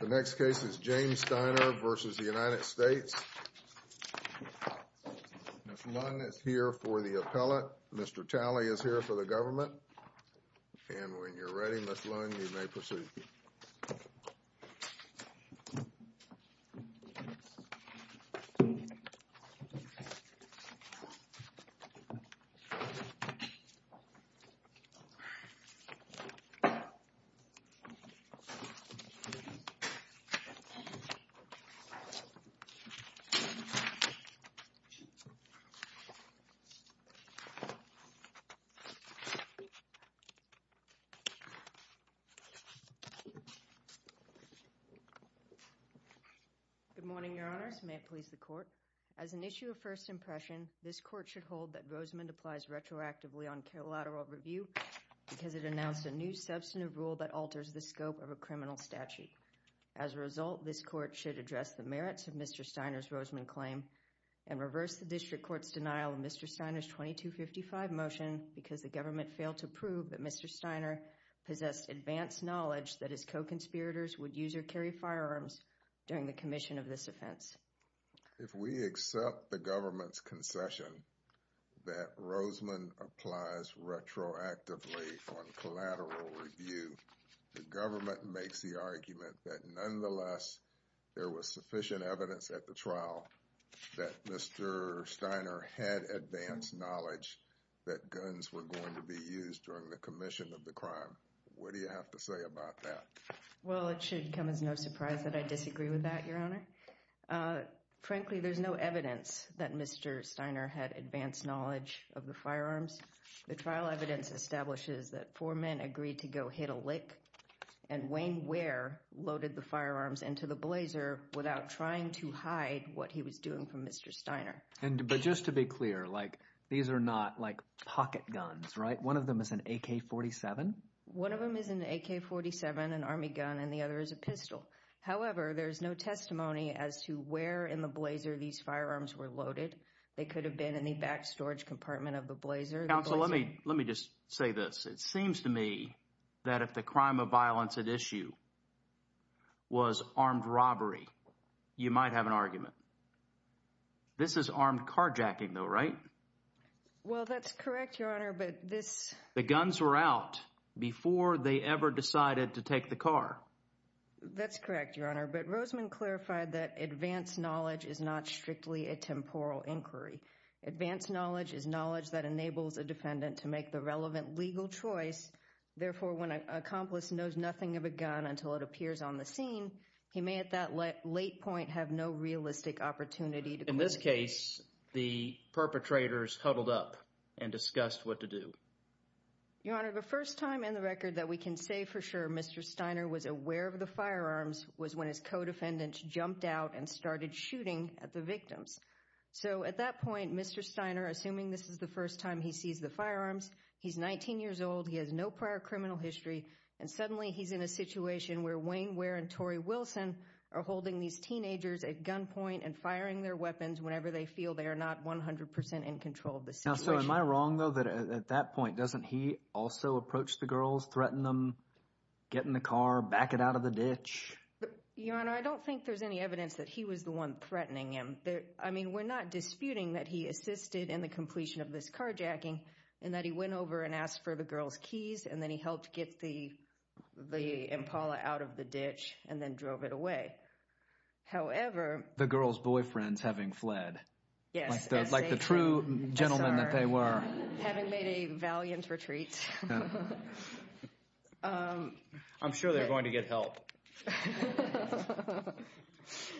The next case is James Steiner v. United States. Ms. Lunn is here for the appellate. Mr. Talley is here for the government. And when you're ready, Ms. Lunn, you may proceed. Good morning, Your Honors. May it please the Court. As an issue of first impression, this Court should hold that Rosamond applies retroactively on collateral review because it announced a new substantive rule that alters the scope of a criminal statute. As a result, this Court should address the merits of Mr. Steiner's Rosamond claim and reverse the District Court's denial of Mr. Steiner's 2255 motion because the government failed to prove that Mr. Steiner possessed advanced knowledge that his co-conspirators would use or carry firearms during the commission of this offense. If we accept the government's concession that Rosamond applies retroactively on collateral review, the government makes the argument that nonetheless there was sufficient evidence at the trial that Mr. Steiner had advanced knowledge that guns were going to be used during the commission of the crime. What do you have to say about that? Well, it should come as no surprise that I disagree with that, Your Honor. Frankly, there's no evidence that Mr. Steiner had advanced knowledge of the firearms. The trial evidence establishes that four men agreed to go hit a lick and Wayne Ware loaded the firearms into the blazer without trying to hide what he was doing from Mr. Steiner. But just to be clear, these are not like pocket guns, right? One of them is an AK-47? One of them is an AK-47, an army gun, and the other is a pistol. However, there's no testimony as to where in the blazer these firearms were loaded. They could have been in the back storage compartment of the blazer. Counsel, let me just say this. It seems to me that if the crime of violence at issue was armed robbery, you might have an argument. This is armed carjacking, though, right? Well, that's correct, Your Honor, but this... The guns were out before they ever decided to take the car. That's correct, Your Honor, but Roseman clarified that advanced knowledge is not strictly a temporal inquiry. Advanced knowledge is knowledge that enables a defendant to make the relevant legal choice. Therefore, when an accomplice knows nothing of a gun until it appears on the scene, he may at that late point have no realistic opportunity to... In this case, the perpetrators huddled up and discussed what to do. Your Honor, the first time in the record that we can say for sure Mr. Steiner was aware of the firearms was when his co-defendants jumped out and started shooting at the victims. So at that point, Mr. Steiner, assuming this is the first time he sees the firearms, he's 19 years old, he has no prior criminal history, and suddenly he's in a situation where Wayne Ware and Tori Wilson are holding these teenagers at gunpoint and firing their weapons whenever they feel they are not 100% in control of the situation. Now, so am I wrong, though, that at that point doesn't he also approach the girls, threaten them, get in the car, back it out of the ditch? Your Honor, I don't think there's any evidence that he was the one threatening them. I mean, we're not disputing that he assisted in the completion of this carjacking and that he went over and asked for the girls' keys, and then he helped get the Impala out of the ditch and then drove it away. However... The girls' boyfriends having fled. Yes. Like the true gentlemen that they were. Having made a valiant retreat. I'm sure they're going to get help.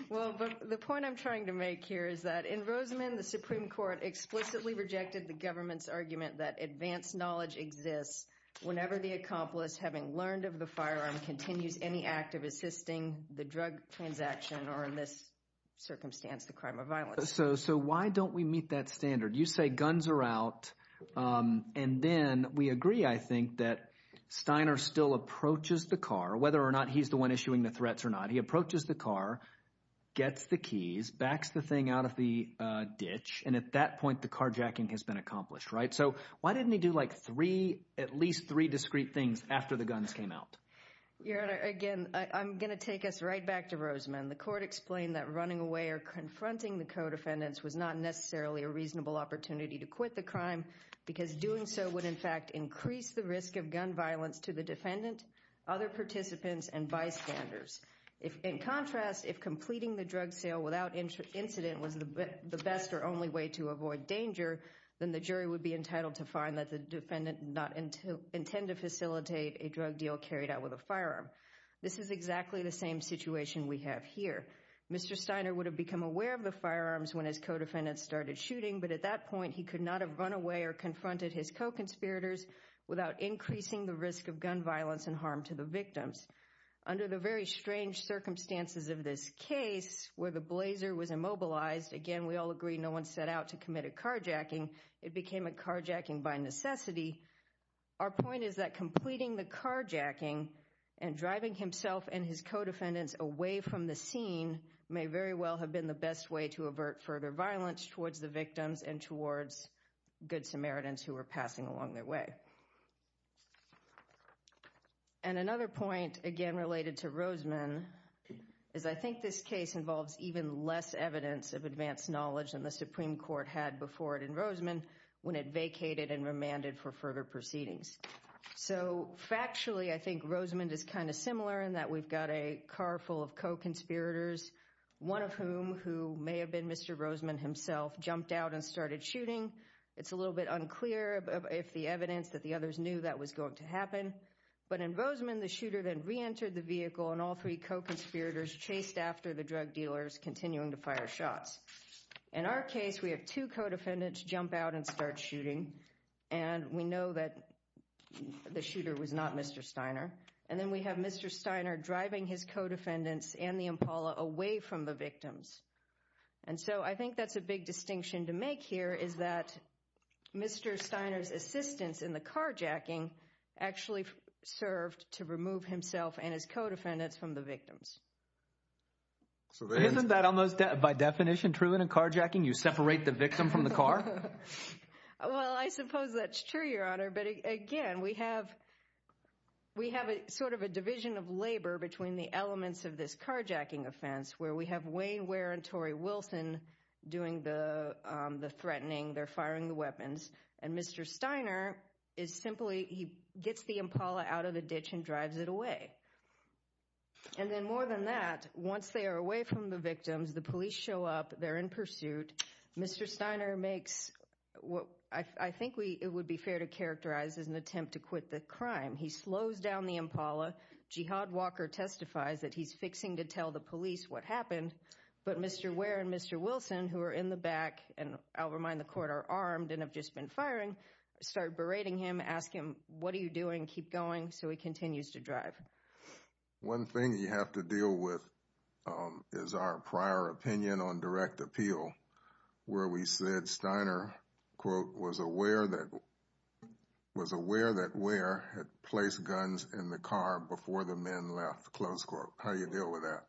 Well, the point I'm trying to make here is that in Rosamond, the Supreme Court explicitly rejected the government's argument that advanced knowledge exists whenever the accomplice, having learned of the firearm, continues any act of assisting the drug transaction or, in this circumstance, the crime of violence. So why don't we meet that standard? You say guns are out, and then we agree, I think, that Steiner still approaches the car, whether or not he's the one issuing the threats or not. He approaches the car, gets the keys, backs the thing out of the ditch, and at that point the carjacking has been accomplished, right? So why didn't he do at least three discreet things after the guns came out? Your Honor, again, I'm going to take us right back to Rosamond. The court explained that running away or confronting the co-defendants was not necessarily a reasonable opportunity to quit the crime because doing so would in fact increase the risk of gun violence to the defendant, other participants, and bystanders. In contrast, if completing the drug sale without incident was the best or only way to avoid danger, then the jury would be entitled to find that the defendant did not intend to facilitate a drug deal carried out with a firearm. This is exactly the same situation we have here. Mr. Steiner would have become aware of the firearms when his co-defendants started shooting, but at that point he could not have run away or confronted his co-conspirators without increasing the risk of gun violence and harm to the victims. Under the very strange circumstances of this case, where the blazer was immobilized, again, we all agree no one set out to commit a carjacking. It became a carjacking by necessity. Our point is that completing the carjacking and driving himself and his co-defendants away from the scene may very well have been the best way to avert further violence towards the victims and towards good Samaritans who were passing along their way. And another point, again related to Rosamond, is I think this case involves even less evidence of advanced knowledge than the Supreme Court had before it in Rosamond when it vacated and remanded for further proceedings. So, factually, I think Rosamond is kind of similar in that we've got a car full of co-conspirators, one of whom, who may have been Mr. Rosamond himself, jumped out and started shooting. It's a little bit unclear if the evidence that the others knew that was going to happen. But in Rosamond, the shooter then reentered the vehicle, and all three co-conspirators chased after the drug dealers, continuing to fire shots. In our case, we have two co-defendants jump out and start shooting, and we know that the shooter was not Mr. Steiner. And then we have Mr. Steiner driving his co-defendants and the Impala away from the victims. And so I think that's a big distinction to make here, is that Mr. Steiner's assistance in the carjacking actually served to remove himself and his co-defendants from the victims. Isn't that almost by definition true in a carjacking? You separate the victim from the car? Well, I suppose that's true, Your Honor. But again, we have sort of a division of labor between the elements of this carjacking offense where we have Wayne Ware and Tori Wilson doing the threatening, they're firing the weapons, and Mr. Steiner is simply—he gets the Impala out of the ditch and drives it away. And then more than that, once they are away from the victims, the police show up, they're in pursuit. Mr. Steiner makes what I think it would be fair to characterize as an attempt to quit the crime. He slows down the Impala. Jihad Walker testifies that he's fixing to tell the police what happened. But Mr. Ware and Mr. Wilson, who are in the back, and I'll remind the Court, are armed and have just been firing, start berating him, ask him, what are you doing, keep going, so he continues to drive. One thing you have to deal with is our prior opinion on direct appeal, where we said Steiner, quote, was aware that Ware had placed guns in the car before the men left. Close quote. How do you deal with that?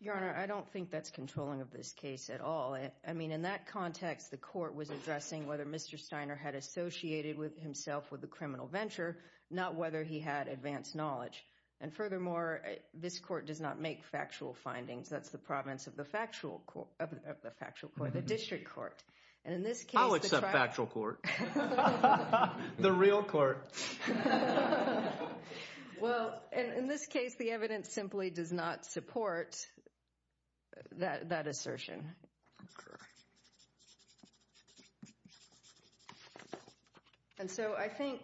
Your Honor, I don't think that's controlling of this case at all. I mean, in that context, the Court was addressing whether Mr. Steiner had associated himself with a criminal venture, not whether he had advanced knowledge. And furthermore, this Court does not make factual findings. That's the province of the factual court, the district court. I'll accept factual court. The real court. Well, in this case, the evidence simply does not support that assertion. Okay. And so I think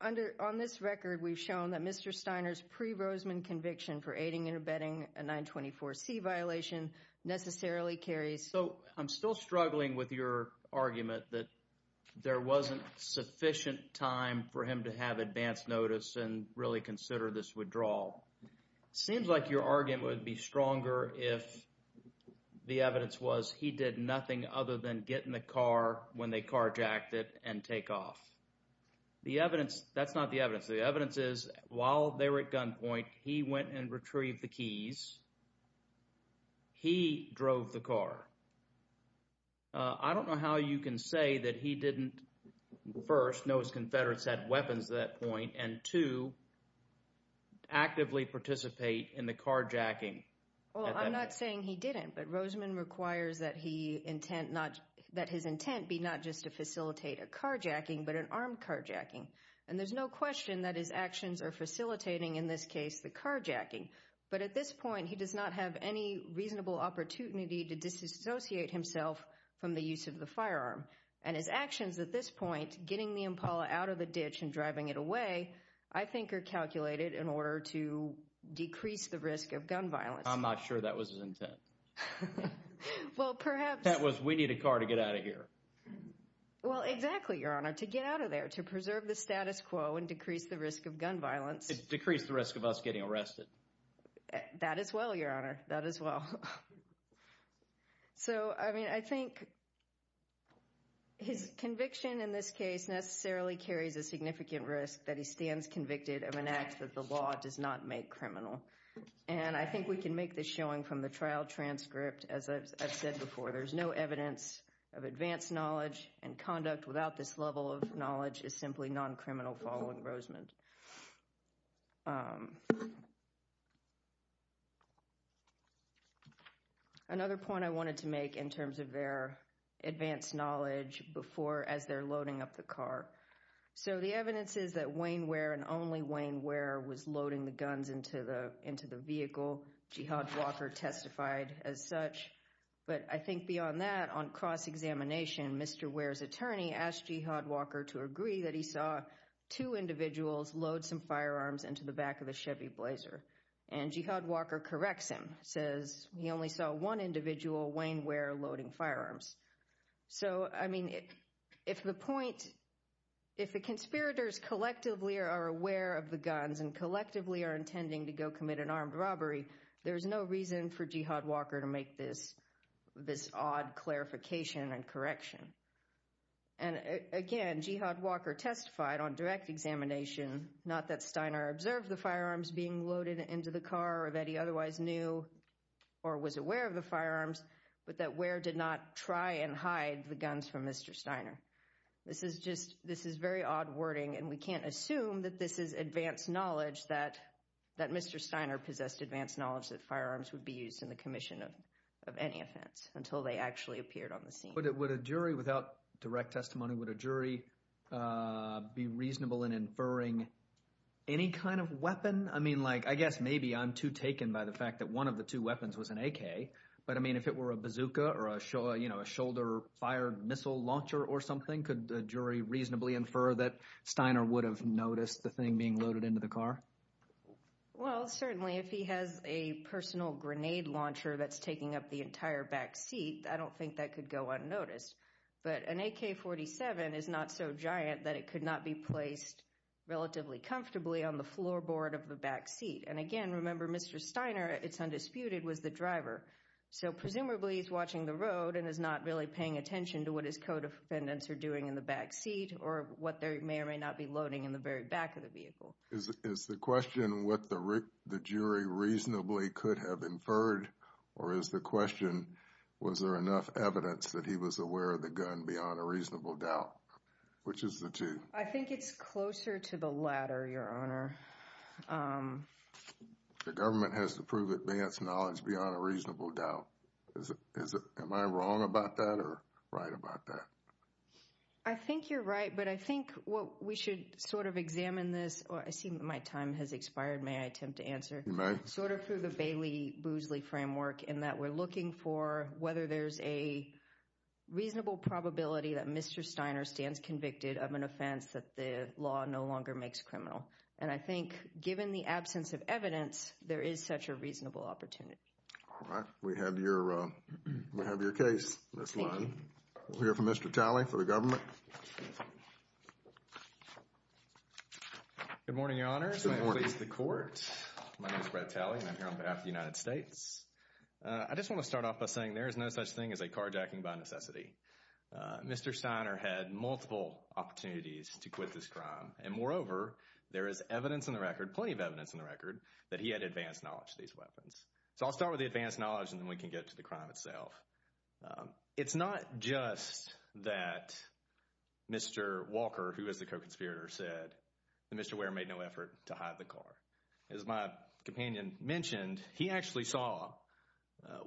on this record, we've shown that Mr. Steiner's pre-Roseman conviction for aiding and abetting a 924C violation necessarily carries. So I'm still struggling with your argument that there wasn't sufficient time for him to have advanced notice and really consider this withdrawal. Seems like your argument would be stronger if the evidence was he did nothing other than get in the car when they carjacked it and take off. The evidence, that's not the evidence. The evidence is while they were at gunpoint, he went and retrieved the keys. He drove the car. I don't know how you can say that he didn't, first, know his Confederates had weapons at that point, and, two, actively participate in the carjacking. Well, I'm not saying he didn't, but Roseman requires that his intent be not just to facilitate a carjacking, but an armed carjacking. And there's no question that his actions are facilitating, in this case, the carjacking. But at this point, he does not have any reasonable opportunity to dissociate himself from the use of the firearm. And his actions at this point, getting the Impala out of the ditch and driving it away, I think are calculated in order to decrease the risk of gun violence. I'm not sure that was his intent. That was, we need a car to get out of here. Well, exactly, Your Honor, to get out of there, to preserve the status quo and decrease the risk of gun violence. Decrease the risk of us getting arrested. That as well, Your Honor, that as well. So, I mean, I think his conviction in this case necessarily carries a significant risk that he stands convicted of an act that the law does not make criminal. And I think we can make this showing from the trial transcript. As I've said before, there's no evidence of advanced knowledge, and conduct without this level of knowledge is simply non-criminal following Roseman. Another point I wanted to make in terms of their advanced knowledge before, as they're loading up the car. So the evidence is that Wayne Ware and only Wayne Ware was loading the guns into the vehicle. Jihad Walker testified as such. But I think beyond that, on cross-examination, Mr. Ware's attorney asked Jihad Walker to agree that he saw two individuals load some firearms into the back of the Chevy Blazer. And Jihad Walker corrects him, says he only saw one individual, Wayne Ware, loading firearms. So, I mean, if the point, if the conspirators collectively are aware of the guns and collectively are intending to go commit an armed robbery, there's no reason for Jihad Walker to make this odd clarification and correction. And again, Jihad Walker testified on direct examination, not that Steiner observed the firearms being loaded into the car or that he otherwise knew or was aware of the firearms, but that Ware did not try and hide the guns from Mr. Steiner. This is just, this is very odd wording, and we can't assume that this is advanced knowledge, that Mr. Steiner possessed advanced knowledge that firearms would be used in the commission of any offense until they actually appeared on the scene. Would a jury, without direct testimony, would a jury be reasonable in inferring any kind of weapon? I mean, like, I guess maybe I'm too taken by the fact that one of the two weapons was an AK, but, I mean, if it were a bazooka or a, you know, a shoulder-fired missile launcher or something, could a jury reasonably infer that Steiner would have noticed the thing being loaded into the car? Well, certainly, if he has a personal grenade launcher that's taking up the entire back seat, I don't think that could go unnoticed. But an AK-47 is not so giant that it could not be placed relatively comfortably on the floorboard of the back seat. And, again, remember, Mr. Steiner, it's undisputed, was the driver. So, presumably, he's watching the road and is not really paying attention to what his co-defendants are doing in the back seat or what there may or may not be loading in the very back of the vehicle. Is the question what the jury reasonably could have inferred, or is the question was there enough evidence that he was aware of the gun beyond a reasonable doubt? Which is the two? I think it's closer to the latter, Your Honor. The government has to prove it beyond its knowledge, beyond a reasonable doubt. Am I wrong about that or right about that? I think you're right, but I think what we should sort of examine this – I see my time has expired. May I attempt to answer? You may. Sort of through the Bailey-Boozley framework in that we're looking for whether there's a reasonable probability that Mr. Steiner stands convicted of an offense that the law no longer makes criminal. And I think, given the absence of evidence, there is such a reasonable opportunity. All right. We have your case. Thank you. We'll hear from Mr. Talley for the government. Good morning, Your Honor. Good morning. Please, the Court. My name is Brett Talley, and I'm here on behalf of the United States. I just want to start off by saying there is no such thing as a carjacking by necessity. Mr. Steiner had multiple opportunities to quit this crime. And moreover, there is evidence on the record, plenty of evidence on the record, that he had advanced knowledge of these weapons. So I'll start with the advanced knowledge, and then we can get to the crime itself. It's not just that Mr. Walker, who was the co-conspirator, said that Mr. Ware made no effort to hide the car. As my companion mentioned, he actually saw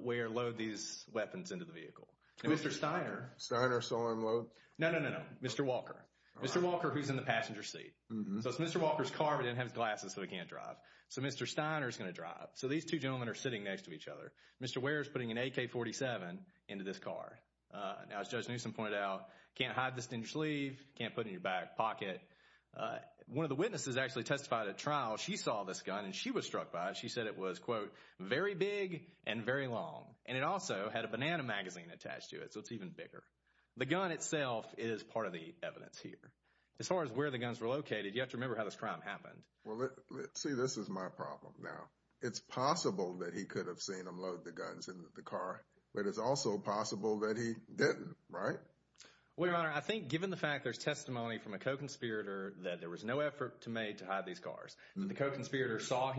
Ware load these weapons into the vehicle. And Mr. Steiner— Steiner saw him load? No, no, no, no. Mr. Walker. Mr. Walker, who's in the passenger seat. So it's Mr. Walker's car, but he didn't have his glasses, so he can't drive. So Mr. Steiner is going to drive. So these two gentlemen are sitting next to each other. Mr. Ware is putting an AK-47 into this car. Now, as Judge Newsom pointed out, can't hide this in your sleeve, can't put it in your back pocket. One of the witnesses actually testified at trial. She saw this gun, and she was struck by it. She said it was, quote, very big and very long. And it also had a banana magazine attached to it, so it's even bigger. The gun itself is part of the evidence here. As far as where the guns were located, you have to remember how this crime happened. Well, see, this is my problem now. It's possible that he could have seen him load the guns into the car, but it's also possible that he didn't, right? Well, Your Honor, I think given the fact there's testimony from a co-conspirator that there was no effort made to hide these cars, and the co-conspirator saw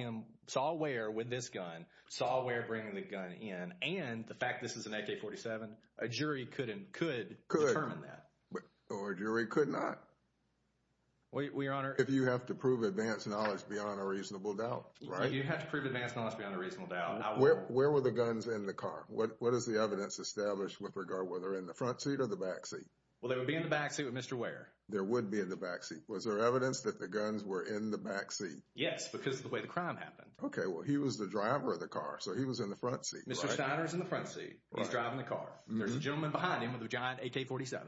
Ware with this gun, saw Ware bringing the gun in, and the fact this is an AK-47, a jury could determine that. Or a jury could not. Well, Your Honor— If you have to prove advanced knowledge beyond a reasonable doubt, right? If you have to prove advanced knowledge beyond a reasonable doubt, I will. Where were the guns in the car? What is the evidence established with regard whether they're in the front seat or the back seat? Well, they would be in the back seat with Mr. Ware. They would be in the back seat. Was there evidence that the guns were in the back seat? Yes, because of the way the crime happened. Okay, well, he was the driver of the car, so he was in the front seat, right? Mr. Steiner is in the front seat. He's driving the car. There's a gentleman behind him with a giant AK-47.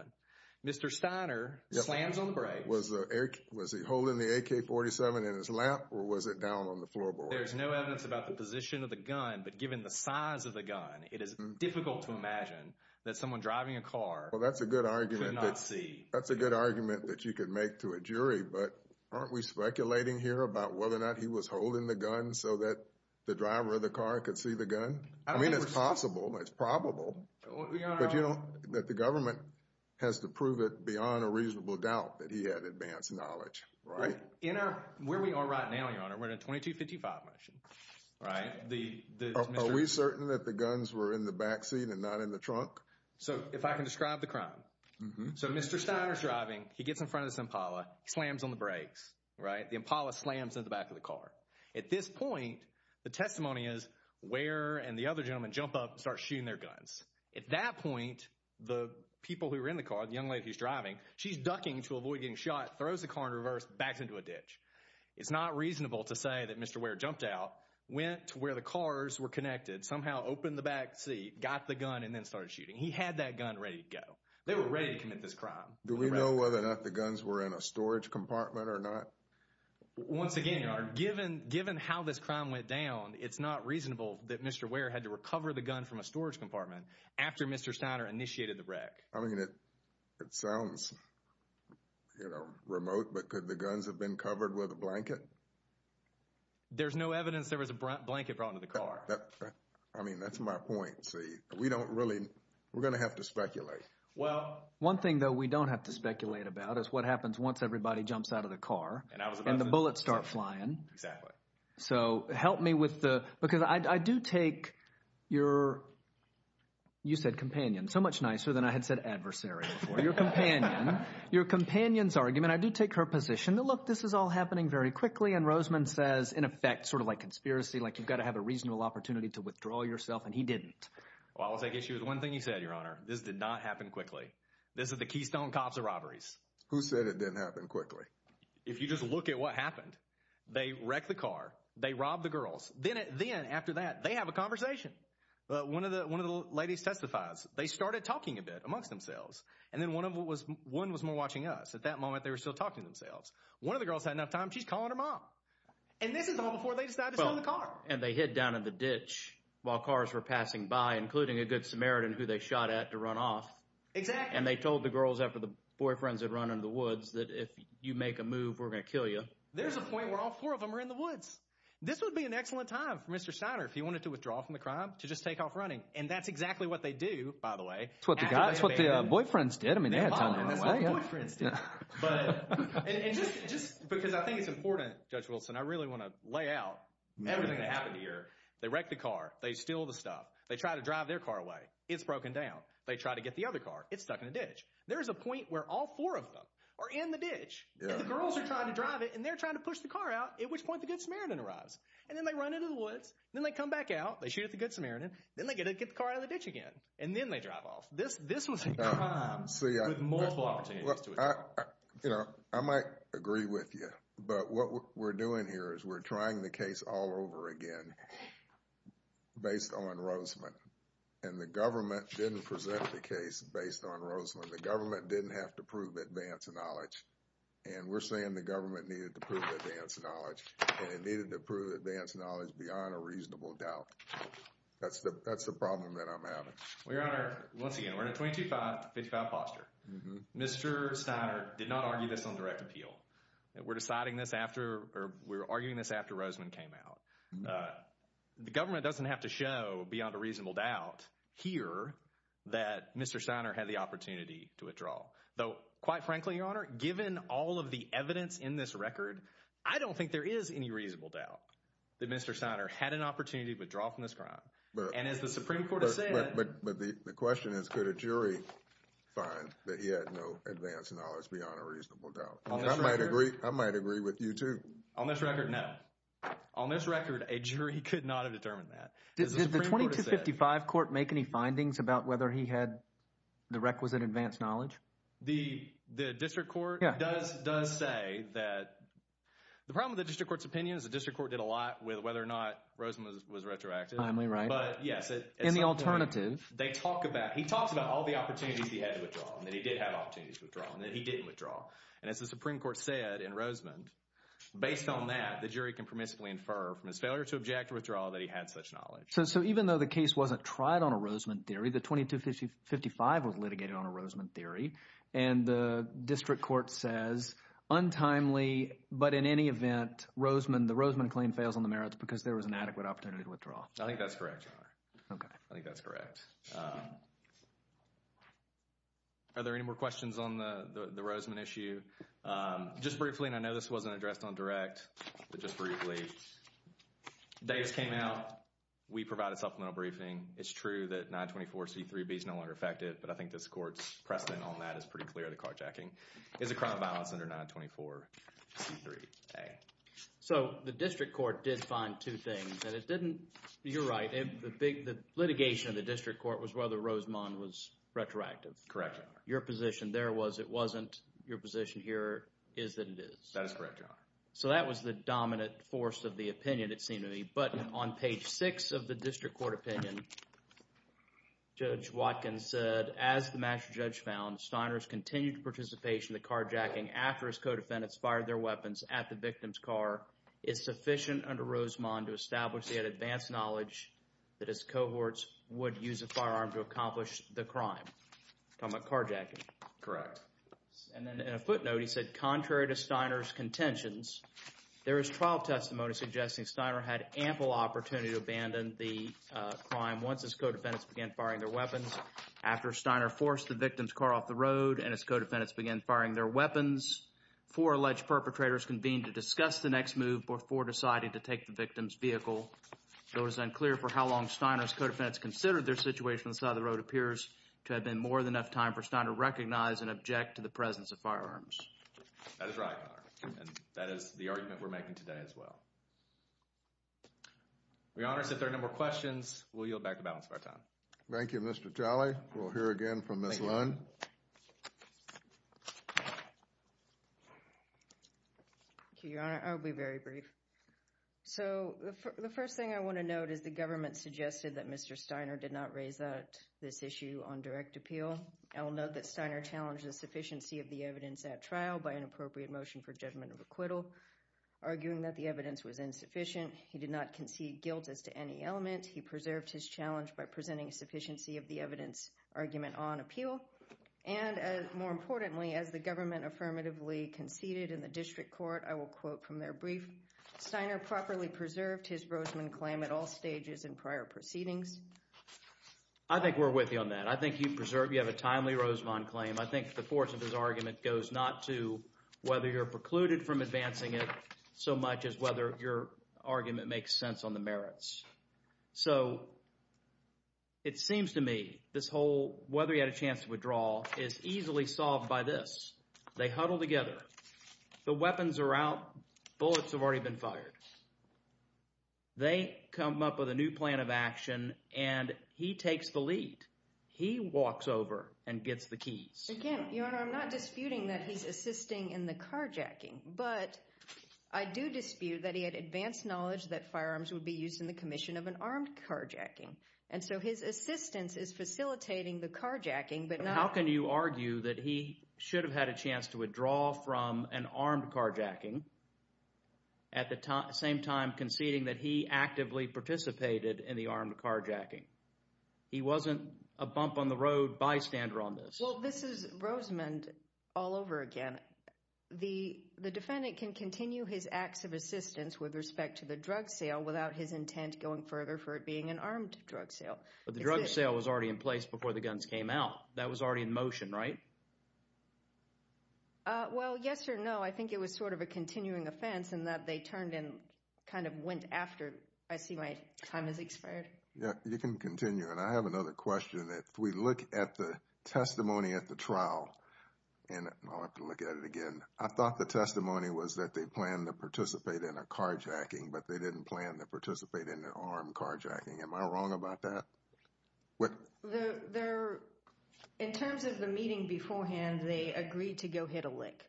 Mr. Steiner slams on the brake. Was he holding the AK-47 in his lap, or was it down on the floorboard? Well, there's no evidence about the position of the gun, but given the size of the gun, it is difficult to imagine that someone driving a car could not see. Well, that's a good argument that you could make to a jury, but aren't we speculating here about whether or not he was holding the gun so that the driver of the car could see the gun? I mean, it's possible. It's probable. But, Your Honor— But, you know, that the government has to prove it beyond a reasonable doubt that he had advanced knowledge, right? In our—where we are right now, Your Honor, we're in a 2255 motion, right? Are we certain that the guns were in the back seat and not in the trunk? So, if I can describe the crime. So, Mr. Steiner's driving. He gets in front of this Impala, slams on the brakes, right? The Impala slams in the back of the car. At this point, the testimony is Ware and the other gentleman jump up and start shooting their guns. At that point, the people who were in the car, the young lady who's driving, she's ducking to avoid getting shot, throws the car in reverse, backs into a ditch. It's not reasonable to say that Mr. Ware jumped out, went to where the cars were connected, somehow opened the back seat, got the gun, and then started shooting. He had that gun ready to go. They were ready to commit this crime. Do we know whether or not the guns were in a storage compartment or not? Once again, Your Honor, given how this crime went down, it's not reasonable that Mr. Ware had to recover the gun from a storage compartment after Mr. Steiner initiated the wreck. I mean, it sounds, you know, remote, but could the guns have been covered with a blanket? There's no evidence there was a blanket brought into the car. I mean, that's my point. See, we don't really – we're going to have to speculate. Well, one thing, though, we don't have to speculate about is what happens once everybody jumps out of the car and the bullets start flying. Exactly. So help me with the – because I do take your – you said companion. So much nicer than I had said adversary before. Your companion's argument, I do take her position that, look, this is all happening very quickly, and Roseman says, in effect, sort of like conspiracy, like you've got to have a reasonable opportunity to withdraw yourself, and he didn't. Well, I'll take issue with one thing you said, Your Honor. This did not happen quickly. This is the keystone cops of robberies. Who said it didn't happen quickly? If you just look at what happened, they wrecked the car. They robbed the girls. Then after that, they have a conversation. One of the ladies testifies. They started talking a bit amongst themselves, and then one was more watching us. At that moment, they were still talking to themselves. One of the girls had enough time. She's calling her mom, and this is all before they decide to stop the car. Well, and they hid down in the ditch while cars were passing by, including a good Samaritan who they shot at to run off. Exactly. And they told the girls after the boyfriends had run into the woods that if you make a move, we're going to kill you. There's a point where all four of them are in the woods. This would be an excellent time for Mr. Steiner, if he wanted to withdraw from the crime, to just take off running, and that's exactly what they do, by the way. That's what the boyfriends did. That's what the boyfriends did. Just because I think it's important, Judge Wilson, I really want to lay out everything that happened here. They wrecked the car. They steal the stuff. They try to drive their car away. It's broken down. They try to get the other car. It's stuck in a ditch. There is a point where all four of them are in the ditch, and the girls are trying to drive it, and they're trying to push the car out, at which point the good Samaritan arrives. And then they run into the woods. Then they come back out. They shoot at the good Samaritan. Then they get the car out of the ditch again, and then they drive off. This was a crime with multiple opportunities to withdraw. I might agree with you, but what we're doing here is we're trying the case all over again based on Roseman, and the government didn't present the case based on Roseman. The government didn't have to prove advance knowledge, and we're saying the government needed to prove advance knowledge, and it needed to prove advance knowledge beyond a reasonable doubt. That's the problem that I'm having. Well, Your Honor, once again, we're in a 22-5 to 55 posture. Mr. Steiner did not argue this on direct appeal. We're deciding this after or we're arguing this after Roseman came out. The government doesn't have to show beyond a reasonable doubt here that Mr. Steiner had the opportunity to withdraw. Though quite frankly, Your Honor, given all of the evidence in this record, I don't think there is any reasonable doubt that Mr. Steiner had an opportunity to withdraw from this crime. And as the Supreme Court has said— But the question is could a jury find that he had no advance knowledge beyond a reasonable doubt? I might agree with you too. On this record, no. On this record, a jury could not have determined that. Did the 22-55 court make any findings about whether he had the requisite advance knowledge? The district court does say that—the problem with the district court's opinion is the district court did a lot with whether or not Roseman was retroactive. Am I right? But, yes, at some point— In the alternative. They talk about—he talks about all the opportunities he had to withdraw, and that he did have opportunities to withdraw, and that he didn't withdraw. And as the Supreme Court said in Roseman, based on that, the jury can permissibly infer from his failure to object to withdrawal that he had such knowledge. So even though the case wasn't tried on a Roseman theory, the 22-55 was litigated on a Roseman theory, and the district court says untimely, but in any event, the Roseman claim fails on the merits because there was an adequate opportunity to withdraw. I think that's correct, Your Honor. Okay. I think that's correct. Are there any more questions on the Roseman issue? Just briefly, and I know this wasn't addressed on direct, but just briefly, days came out. We provided supplemental briefing. It's true that 924C3B is no longer effective, but I think this court's precedent on that is pretty clear, the carjacking. Is the crime of violence under 924C3A? So the district court did find two things, and it didn't—you're right. The litigation of the district court was whether Roseman was retroactive. Correct, Your Honor. Your position there was it wasn't. Your position here is that it is. That is correct, Your Honor. So that was the dominant force of the opinion, it seemed to me. But on page 6 of the district court opinion, Judge Watkins said, Steiner's continued participation in the carjacking after his co-defendants fired their weapons at the victim's car is sufficient under Roseman to establish he had advanced knowledge that his cohorts would use a firearm to accomplish the crime. Talking about carjacking. Correct. And then in a footnote, he said, Contrary to Steiner's contentions, there is trial testimony suggesting Steiner had ample opportunity to abandon the crime once his co-defendants began firing their weapons. After Steiner forced the victim's car off the road and his co-defendants began firing their weapons, four alleged perpetrators convened to discuss the next move before deciding to take the victim's vehicle. Though it is unclear for how long Steiner's co-defendants considered their situation on the side of the road appears to have been more than enough time for Steiner to recognize and object to the presence of firearms. That is right, Your Honor. And that is the argument we're making today as well. Your Honor, since there are no more questions, we'll yield back the balance of our time. Thank you, Mr. Jolly. We'll hear again from Ms. Lund. Thank you, Your Honor. I'll be very brief. So the first thing I want to note is the government suggested that Mr. Steiner did not raise this issue on direct appeal. I will note that Steiner challenged the sufficiency of the evidence at trial by an appropriate motion for judgment of acquittal, arguing that the evidence was insufficient. He did not concede guilt as to any element. He preserved his challenge by presenting sufficiency of the evidence argument on appeal. And more importantly, as the government affirmatively conceded in the district court, I will quote from their brief, Steiner properly preserved his Rosemond claim at all stages in prior proceedings. I think we're with you on that. I think you preserved – you have a timely Rosemond claim. I think the force of his argument goes not to whether you're precluded from advancing it so much as whether your argument makes sense on the merits. So it seems to me this whole whether he had a chance to withdraw is easily solved by this. They huddle together. The weapons are out. Bullets have already been fired. They come up with a new plan of action, and he takes the lead. He walks over and gets the keys. Again, Your Honor, I'm not disputing that he's assisting in the carjacking, but I do dispute that he had advanced knowledge that firearms would be used in the commission of an armed carjacking. And so his assistance is facilitating the carjacking, but not – How can you argue that he should have had a chance to withdraw from an armed carjacking at the same time conceding that he actively participated in the armed carjacking? He wasn't a bump-on-the-road bystander on this. Well, this is Rosemond all over again. The defendant can continue his acts of assistance with respect to the drug sale without his intent going further for it being an armed drug sale. But the drug sale was already in place before the guns came out. That was already in motion, right? Well, yes or no. I think it was sort of a continuing offense in that they turned and kind of went after – I see my time has expired. You can continue. And I have another question. If we look at the testimony at the trial – and I'll have to look at it again. I thought the testimony was that they planned to participate in a carjacking, but they didn't plan to participate in an armed carjacking. Am I wrong about that? In terms of the meeting beforehand, they agreed to go hit a lick.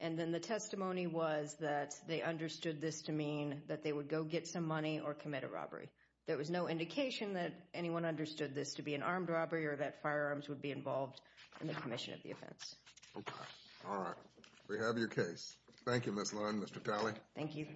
And then the testimony was that they understood this to mean that they would go get some money or commit a robbery. There was no indication that anyone understood this to be an armed robbery or that firearms would be involved in the commission of the offense. Okay. All right. We have your case. Thank you, Ms. Lund, Mr. Talley. Thank you.